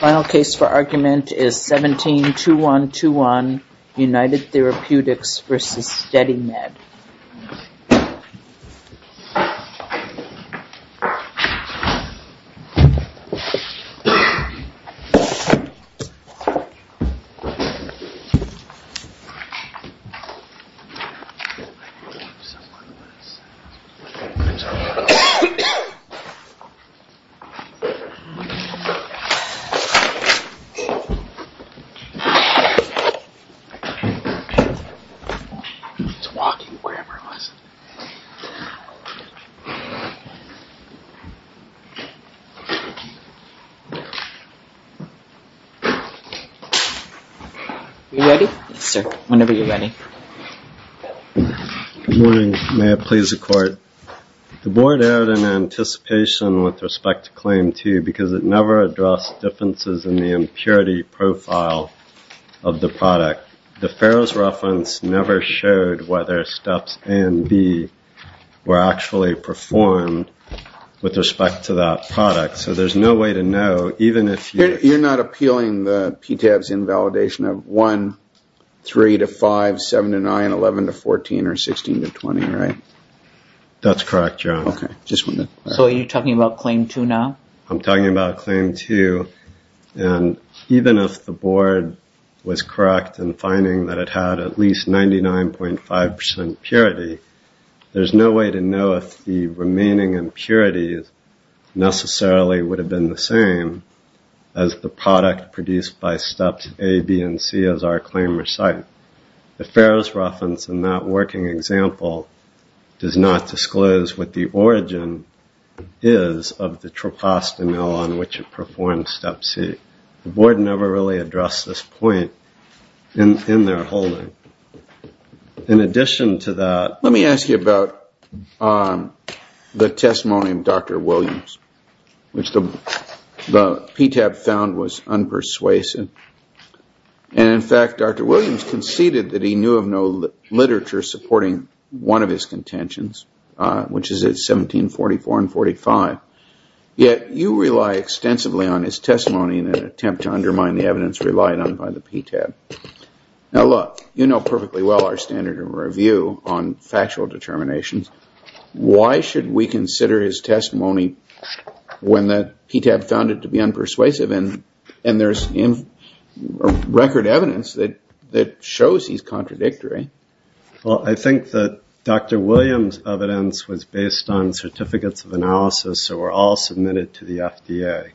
Final case for argument is 17-2121 United Therapeutics v. SteadyMed. The Board erred in anticipation with respect to Claim 2 because it never addressed differences in the impurity profile of the product. The Farrow's reference never showed whether Steps A and B were actually performed with respect to that product. So there's no way to know, even if you... You're not appealing the PTAB's invalidation of 1, 3-5, 7-9, 11-14, or 16-20, right? That's correct, Joan. Okay. So are you talking about Claim 2 now? I'm talking about Claim 2, and even if the Board was correct in finding that it had at least 99.5% purity, there's no way to know if the remaining impurities necessarily would have been the same as the product produced by Steps A, B, and C as our claim recited. The Farrow's reference in that working example does not disclose what the origin is of the troposomal on which it performed Step C. The Board never really addressed this point in their holding. In addition to that... Let me ask you about the testimony of Dr. Williams, which the PTAB found was unpersuasive. And in fact, Dr. Williams conceded that he knew of no literature supporting one of his contentions, which is at 1744 and 45. Yet you rely extensively on his testimony in an attempt to undermine the evidence relied on by the PTAB. Now look, you know perfectly well our standard of review on factual determinations. Why should we consider his testimony when the PTAB found it to be unpersuasive? And there's record evidence that shows he's contradictory. Well, I think that Dr. Williams' evidence was based on certificates of analysis that were all submitted to the FDA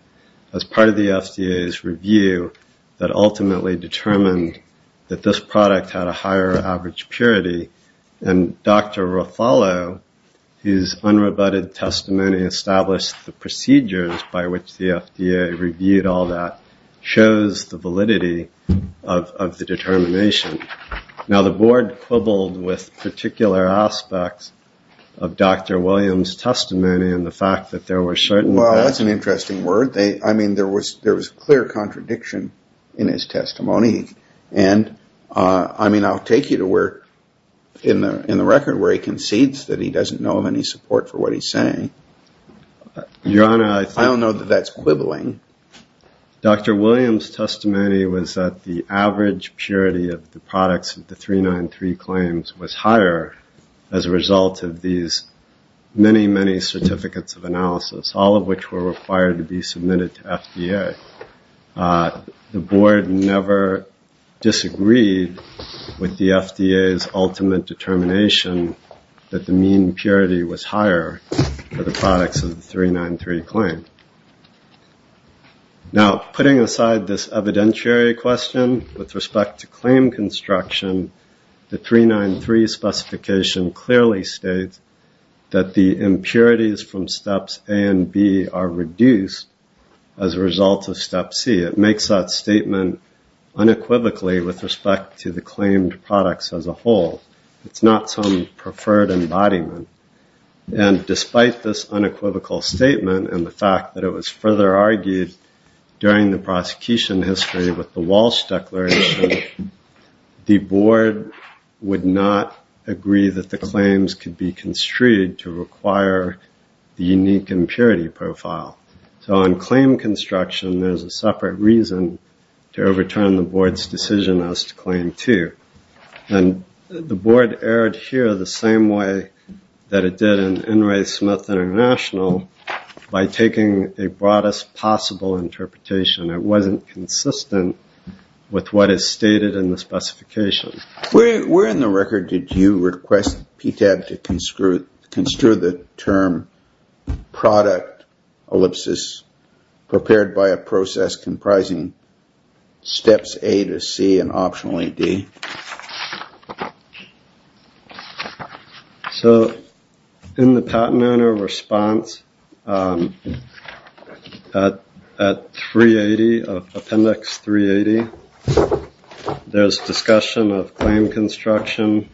as part of the FDA's review that ultimately determined that this product had a higher average purity. And Dr. Ruffalo, whose unrebutted testimony established the procedures by which the FDA reviewed all that, shows the validity of the determination. Now, the Board quibbled with particular aspects of Dr. Williams' testimony and the fact that there were certain... Well, that's an interesting word. I mean, there was clear contradiction in his testimony. And, I mean, I'll take you to where, in the record, where he concedes that he doesn't know of any support for what he's saying. Your Honor, I think... I don't know that that's quibbling. Dr. Williams' testimony was that the average purity of the products of the 393 claims was higher as a result of these many, many certificates of analysis, all of which were required to be submitted to FDA. The Board never disagreed with the FDA's ultimate determination that the mean purity was higher for the products of the 393 claim. Now, putting aside this evidentiary question, with respect to claim construction, the 393 specification clearly states that the impurities from steps A and B are reduced as a result of step C. It makes that statement unequivocally with respect to the claimed products as a whole. It's not some preferred embodiment. And despite this unequivocal statement and the fact that it was further argued during the prosecution history with the Walsh Declaration, the Board would not agree that the claims could be construed to require the unique impurity profile. So on claim construction, there's a separate reason to overturn the Board's decision as to claim two. And the Board erred here the same way that it did in In re Smith International by taking a broadest possible interpretation. It wasn't consistent with what is stated in the specification. Where in the record did you request PTAB to construe the term product ellipsis prepared by a process comprising steps A to C and optionally D? So in the patent owner response at 380, appendix 380, there's discussion of claim construction.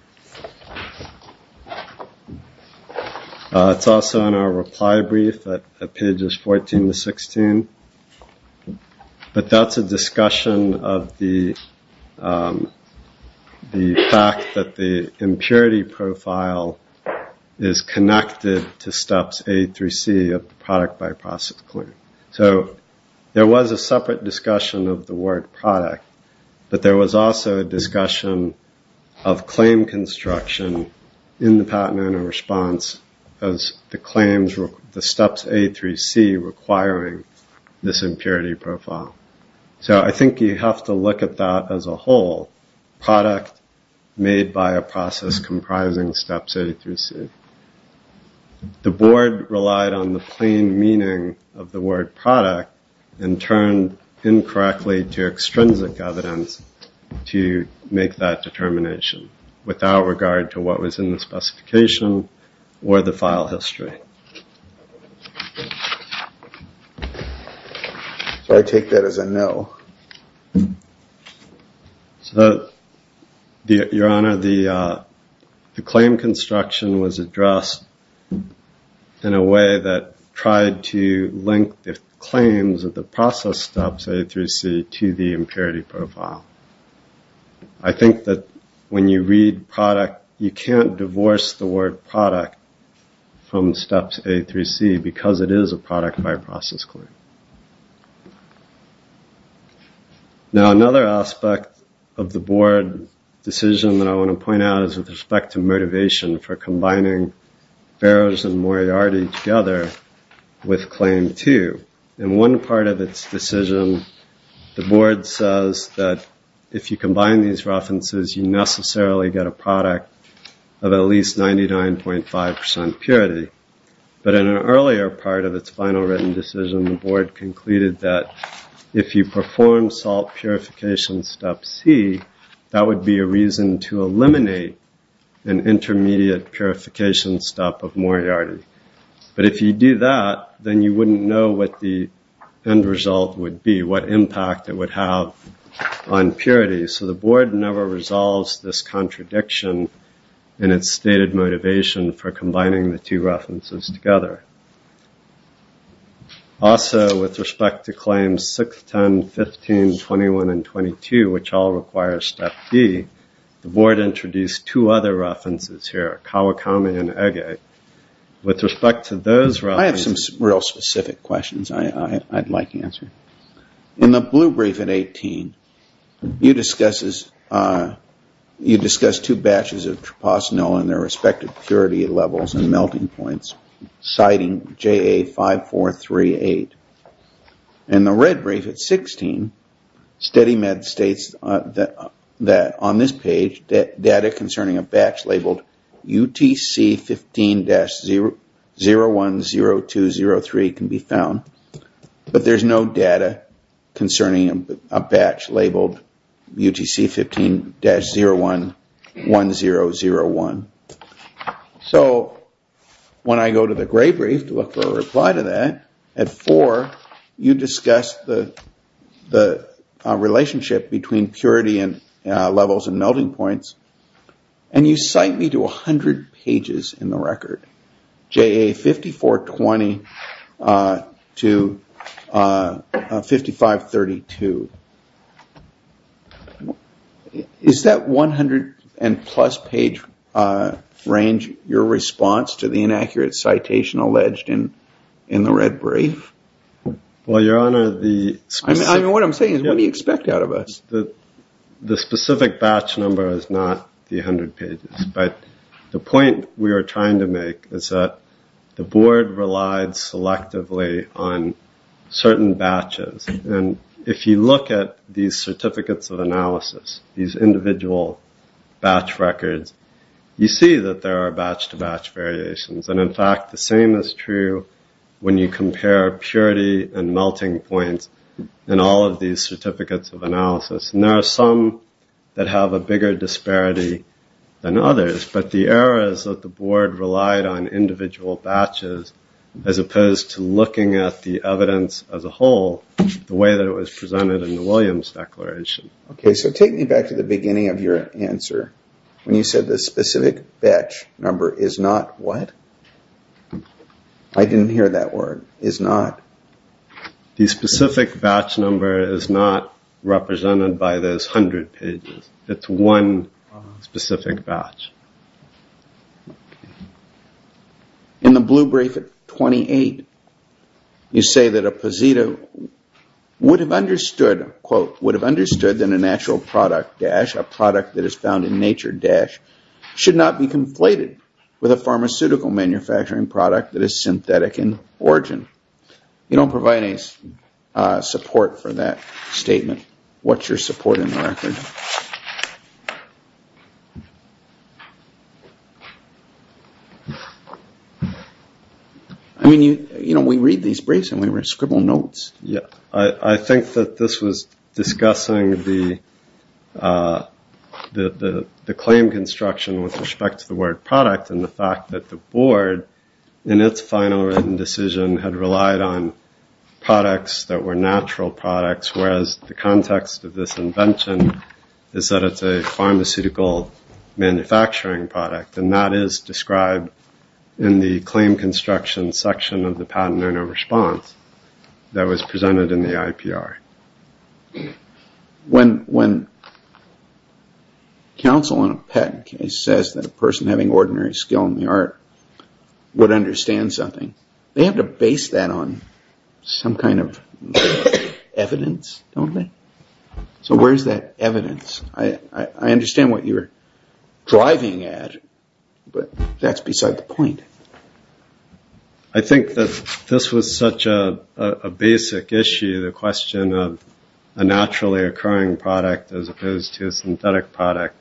It's also in our reply brief at pages 14 to 16. But that's a discussion of the fact that the impurity profile is connected to steps A through C of the product by process claim. So there was a separate discussion of the word product, but there was also a discussion of claim construction in the patent owner response as the claims were the steps A through C requiring this impurity profile. So I think you have to look at that as a whole product made by a process comprising steps A through C. The Board relied on the plain meaning of the word product and turned incorrectly to extrinsic evidence to make that determination without regard to what was in the specification or the file history. So I take that as a no. Your Honor, the claim construction was addressed in a way that tried to link the claims of process steps A through C to the impurity profile. I think that when you read product, you can't divorce the word product from steps A through C because it is a product by process claim. Now another aspect of the Board decision that I want to point out is with respect to motivation for combining Ferro's and Moriarty together with claim two. In one part of its decision, the Board says that if you combine these references, you necessarily get a product of at least 99.5% purity. But in an earlier part of its final written decision, the Board concluded that if you purification step of Moriarty. But if you do that, then you wouldn't know what the end result would be, what impact it would have on purity. So the Board never resolves this contradiction in its stated motivation for combining the two references together. Also, with respect to claims 6, 10, 15, 21, and 22, which all require step B, the Board introduced two other references here, Kawakami and Ege. I have some real specific questions I'd like to answer. In the blue brief at 18, you discuss two batches of Trapasanoa and their respective purity levels and melting points, citing JA5438. In the red brief at 16, SteadyMed states that on this page, data concerning a batch labeled UTC15-010203 can be found, but there is no data concerning a batch labeled UTC15-01001. So when I go to the gray brief to look for a reply to that, at 4, you discuss the relationship between purity levels and melting points, and you cite me to 100 pages in the record, JA5420 to 5532. Is that 100 and plus page range your response to the inaccurate citation alleged in the red brief? Well, Your Honor, the specific batch number is not the 100 pages, but the point we are trying to make is that the Board relied selectively on certain batches, and if you look at the certificates of analysis, these individual batch records, you see that there are batch-to-batch variations, and in fact, the same is true when you compare purity and melting points in all of these certificates of analysis, and there are some that have a bigger disparity than others, but the error is that the Board relied on individual batches as opposed to looking at the evidence as a whole the way that it was presented in the Williams Declaration. Okay, so take me back to the beginning of your answer when you said the specific batch number is not what? I didn't hear that word, is not. The specific batch number is not represented by those 100 pages. It's one specific batch. Okay. In the blue brief at 28, you say that a posita would have understood, quote, would have understood that a natural product dash, a product that is found in nature dash, should not be conflated with a pharmaceutical manufacturing product that is synthetic in origin. You don't provide any support for that statement. What's your support in the record? I mean, you know, we read these briefs and we scribble notes. Yeah, I think that this was discussing the claim construction with respect to the word product and the fact that the Board, in its final written decision, had relied on products that were natural products, whereas the context of this invention is that it's a pharmaceutical manufacturing product. And that is described in the claim construction section of the patent owner response that was presented in the IPR. When counsel in a patent case says that a person having ordinary skill in the art would understand something, they have to base that on some kind of evidence, don't they? So where's that evidence? I understand what you're driving at, but that's beside the point. I think that this was such a basic issue, the question of a naturally occurring product as opposed to a synthetic product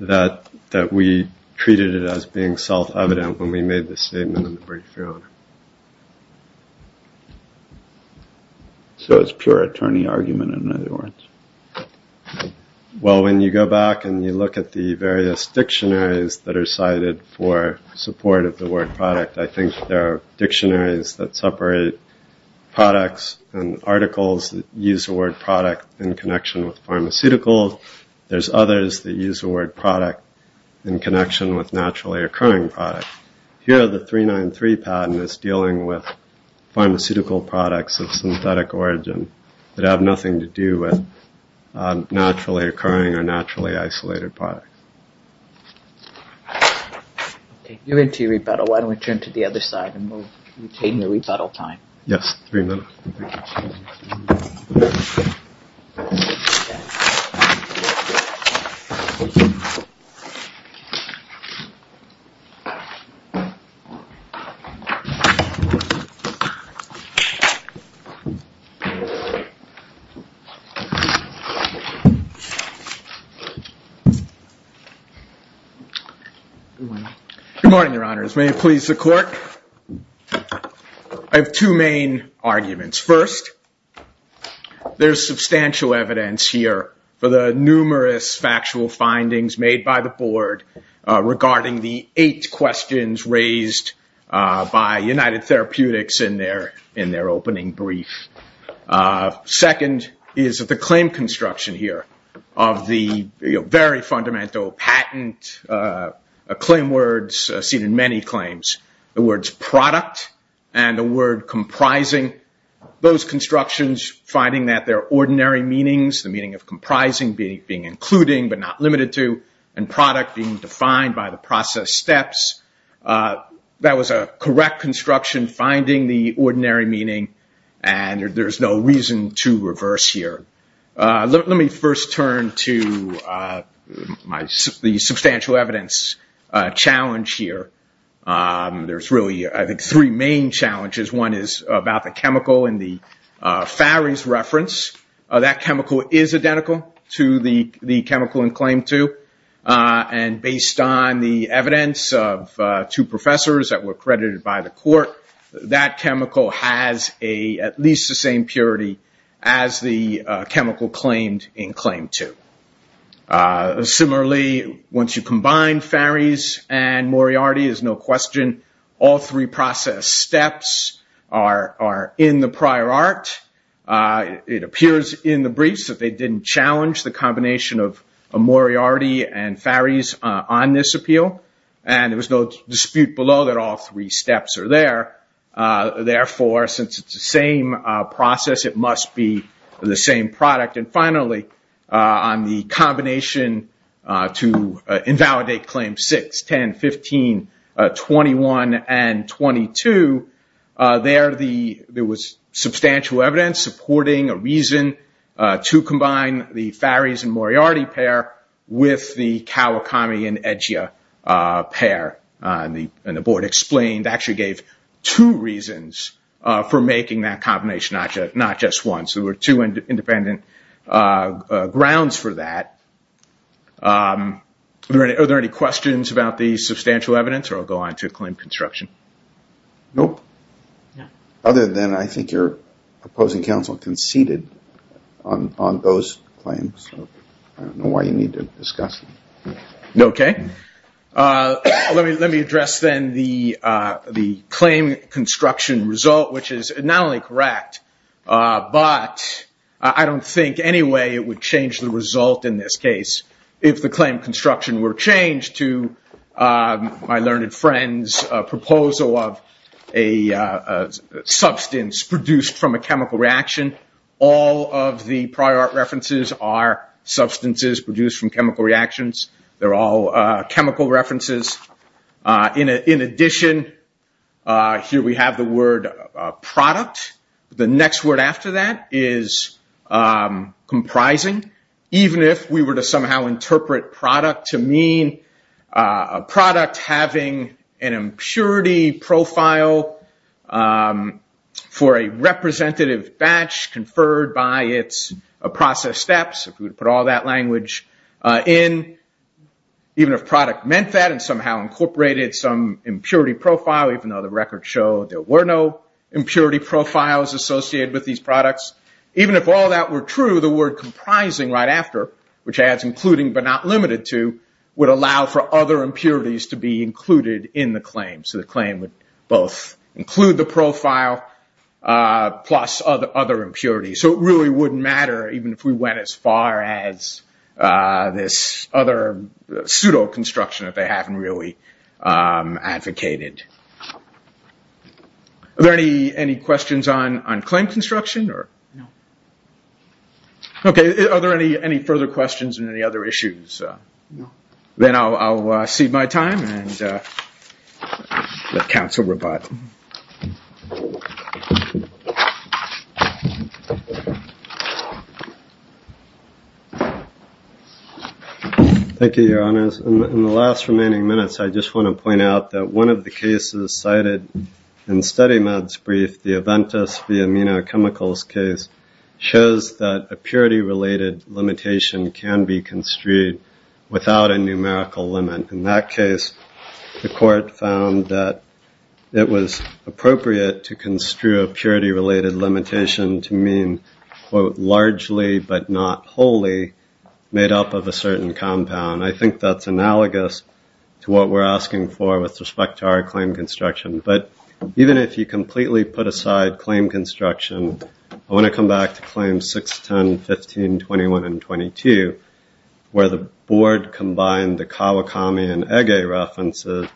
that we treated it as being self-evident when we made the statement in the brief you're on. So it's pure attorney argument, in other words? Well, when you go back and you look at the various dictionaries that are cited for support of the word product, I think there are dictionaries that separate products and articles that use the word product in connection with pharmaceuticals. There's others that use the word product in connection with naturally occurring product. Here the 393 patent is dealing with pharmaceutical products of synthetic origin that have nothing to do with naturally occurring or naturally isolated product. Okay, you're into your rebuttal. Why don't we turn to the other side and we'll retain your rebuttal time. Yes, three minutes. Good morning, your honors. May it please the court. I have two main arguments. First, there's substantial evidence here for the numerous factual findings made by the board regarding the eight questions raised by United Therapeutics in their opening brief. Second is that the claim construction here of the very fundamental patent claim words seen in many claims, the words product and the word comprising, those constructions finding that their ordinary meanings, the meaning of comprising being including but not limited to, and product being defined by the process steps, that was a correct construction finding the ordinary meaning and there's no reason to reverse here. Let me first turn to the substantial evidence challenge here. There's really, I think, three main challenges. One is about the chemical in the Fary's reference. That chemical is identical to the chemical in claim two. And based on the evidence of two professors that were credited by the court, that chemical has at least the same purity as the chemical claimed in claim two. Similarly, once you combine Fary's and Moriarty's, there's no question, all three process steps are in the prior art. It appears in the briefs that they didn't challenge the combination of Moriarty and Fary's on this appeal. And there was no dispute below that all three steps are there. Therefore, since it's the same process, it must be the same product. And finally, on the combination to invalidate claim six, 10, 15, 21, and 22, there was substantial evidence supporting a reason to combine the Fary's and Moriarty pair with the Kawakami and Egea pair. And the board explained, actually gave two reasons for making that combination, not just one. So there were two independent grounds for that. Are there any questions about the substantial evidence? Or I'll go on to claim construction. Nope. Other than I think you're proposing counsel conceded on those claims. I don't know why you need a discussion. Okay. Let me address then the claim construction result, which is not only correct, but I don't think any way it would change the result in this case if the claim construction were changed to my learned friend's proposal of a substance produced from a chemical reaction. All of the prior references are substances produced from chemical reactions. They're all chemical references. In addition, here we have the word product. The next word after that is comprising. Even if we were to somehow interpret product to mean a product having an impurity profile for a representative batch conferred by its process steps, if we were to put all that language in, even if product meant that and somehow incorporated some impurity profile, even though the records show there were no impurity profiles associated with these products, even if all that were true, the word comprising right after, which adds including but not limited to, would allow for other impurities to be included in the claim. So the claim would both include the profile plus other impurities. So it really wouldn't matter even if we went as far as this other pseudo-construction that they haven't really advocated. Are there any questions on claim construction? Are there any further questions on any other issues? Then I'll cede my time and let counsel rebut. Thank you, Your Honors. In the last remaining minutes, I just want to point out that one of the cases cited in StudyMed's brief, the Aventis v. Amino Chemicals case, shows that a purity-related limitation can be construed without a numerical limit. In that case, the court found that it was appropriate to construe a purity-related limitation to mean, quote, largely but not wholly made up of a certain compound. I think that's analogous to what we're asking for with respect to our claim construction. But even if you completely put aside claim construction, I want to come back to Claims 6, 10, 15, 21, and 22, where the board combined the Kawakami and Ege references,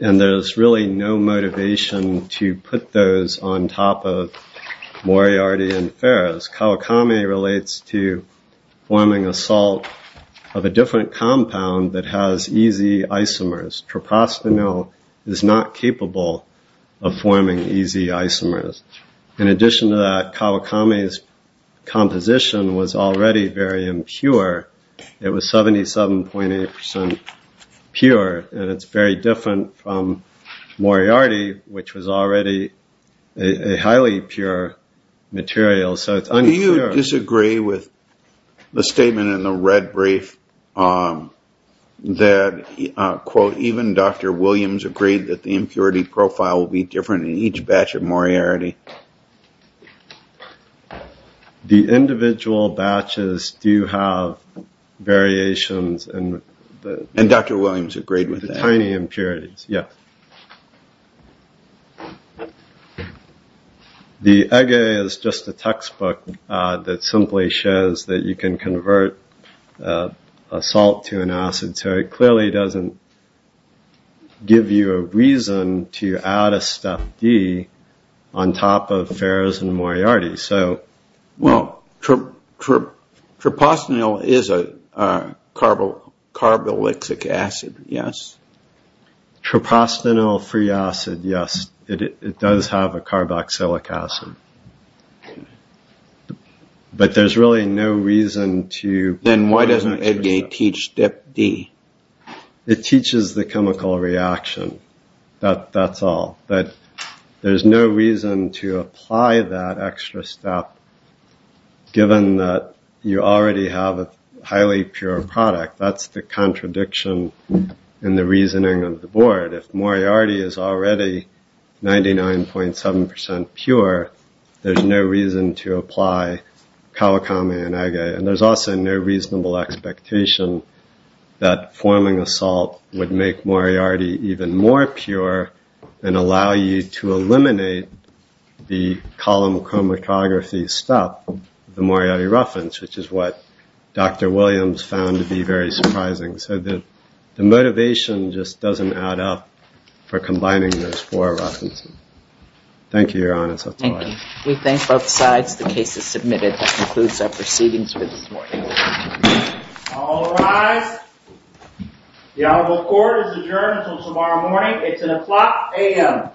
and there's really no motivation to put those on top of Moriarty and Ferres. Kawakami relates to forming a salt of a different compound that has easy isomers. Tropostano is not capable of forming easy isomers. In addition to that, Kawakami's composition was already very impure. It was 77.8 percent pure, and it's very different from Moriarty, which was already a highly pure material. Do you disagree with the statement in the red brief that, quote, even Dr. Williams agreed that the impurity profile would be different in each batch of Moriarty? The individual batches do have variations. And Dr. Williams agreed with that. Tiny impurities, yes. The Ege is just a textbook that simply shows that you can convert a salt to an acid, so it clearly doesn't give you a reason to add a step D on top of Ferres and Moriarty. Well, tropostano is a carboxylic acid, yes? Tropostano free acid, yes. It does have a carboxylic acid. But there's really no reason to... Then why doesn't Ege teach step D? It teaches the chemical reaction. That's all. But there's no reason to apply that extra step, given that you already have a highly pure product. That's the contradiction in the reasoning of the board. If Moriarty is already 99.7 percent pure, there's no reason to apply Kawakami and Ege. And there's also no reasonable expectation that forming a salt would make Moriarty even more pure and allow you to eliminate the column chromatography step, the Moriarty roughens, which is what Dr. Williams found to be very surprising. So the motivation just doesn't add up for combining those four roughens. Thank you, Your Honor. Thank you. We thank both sides. The case is submitted. That concludes our proceedings for this morning. All rise. The honorable court is adjourned until tomorrow morning. It's at o'clock a.m.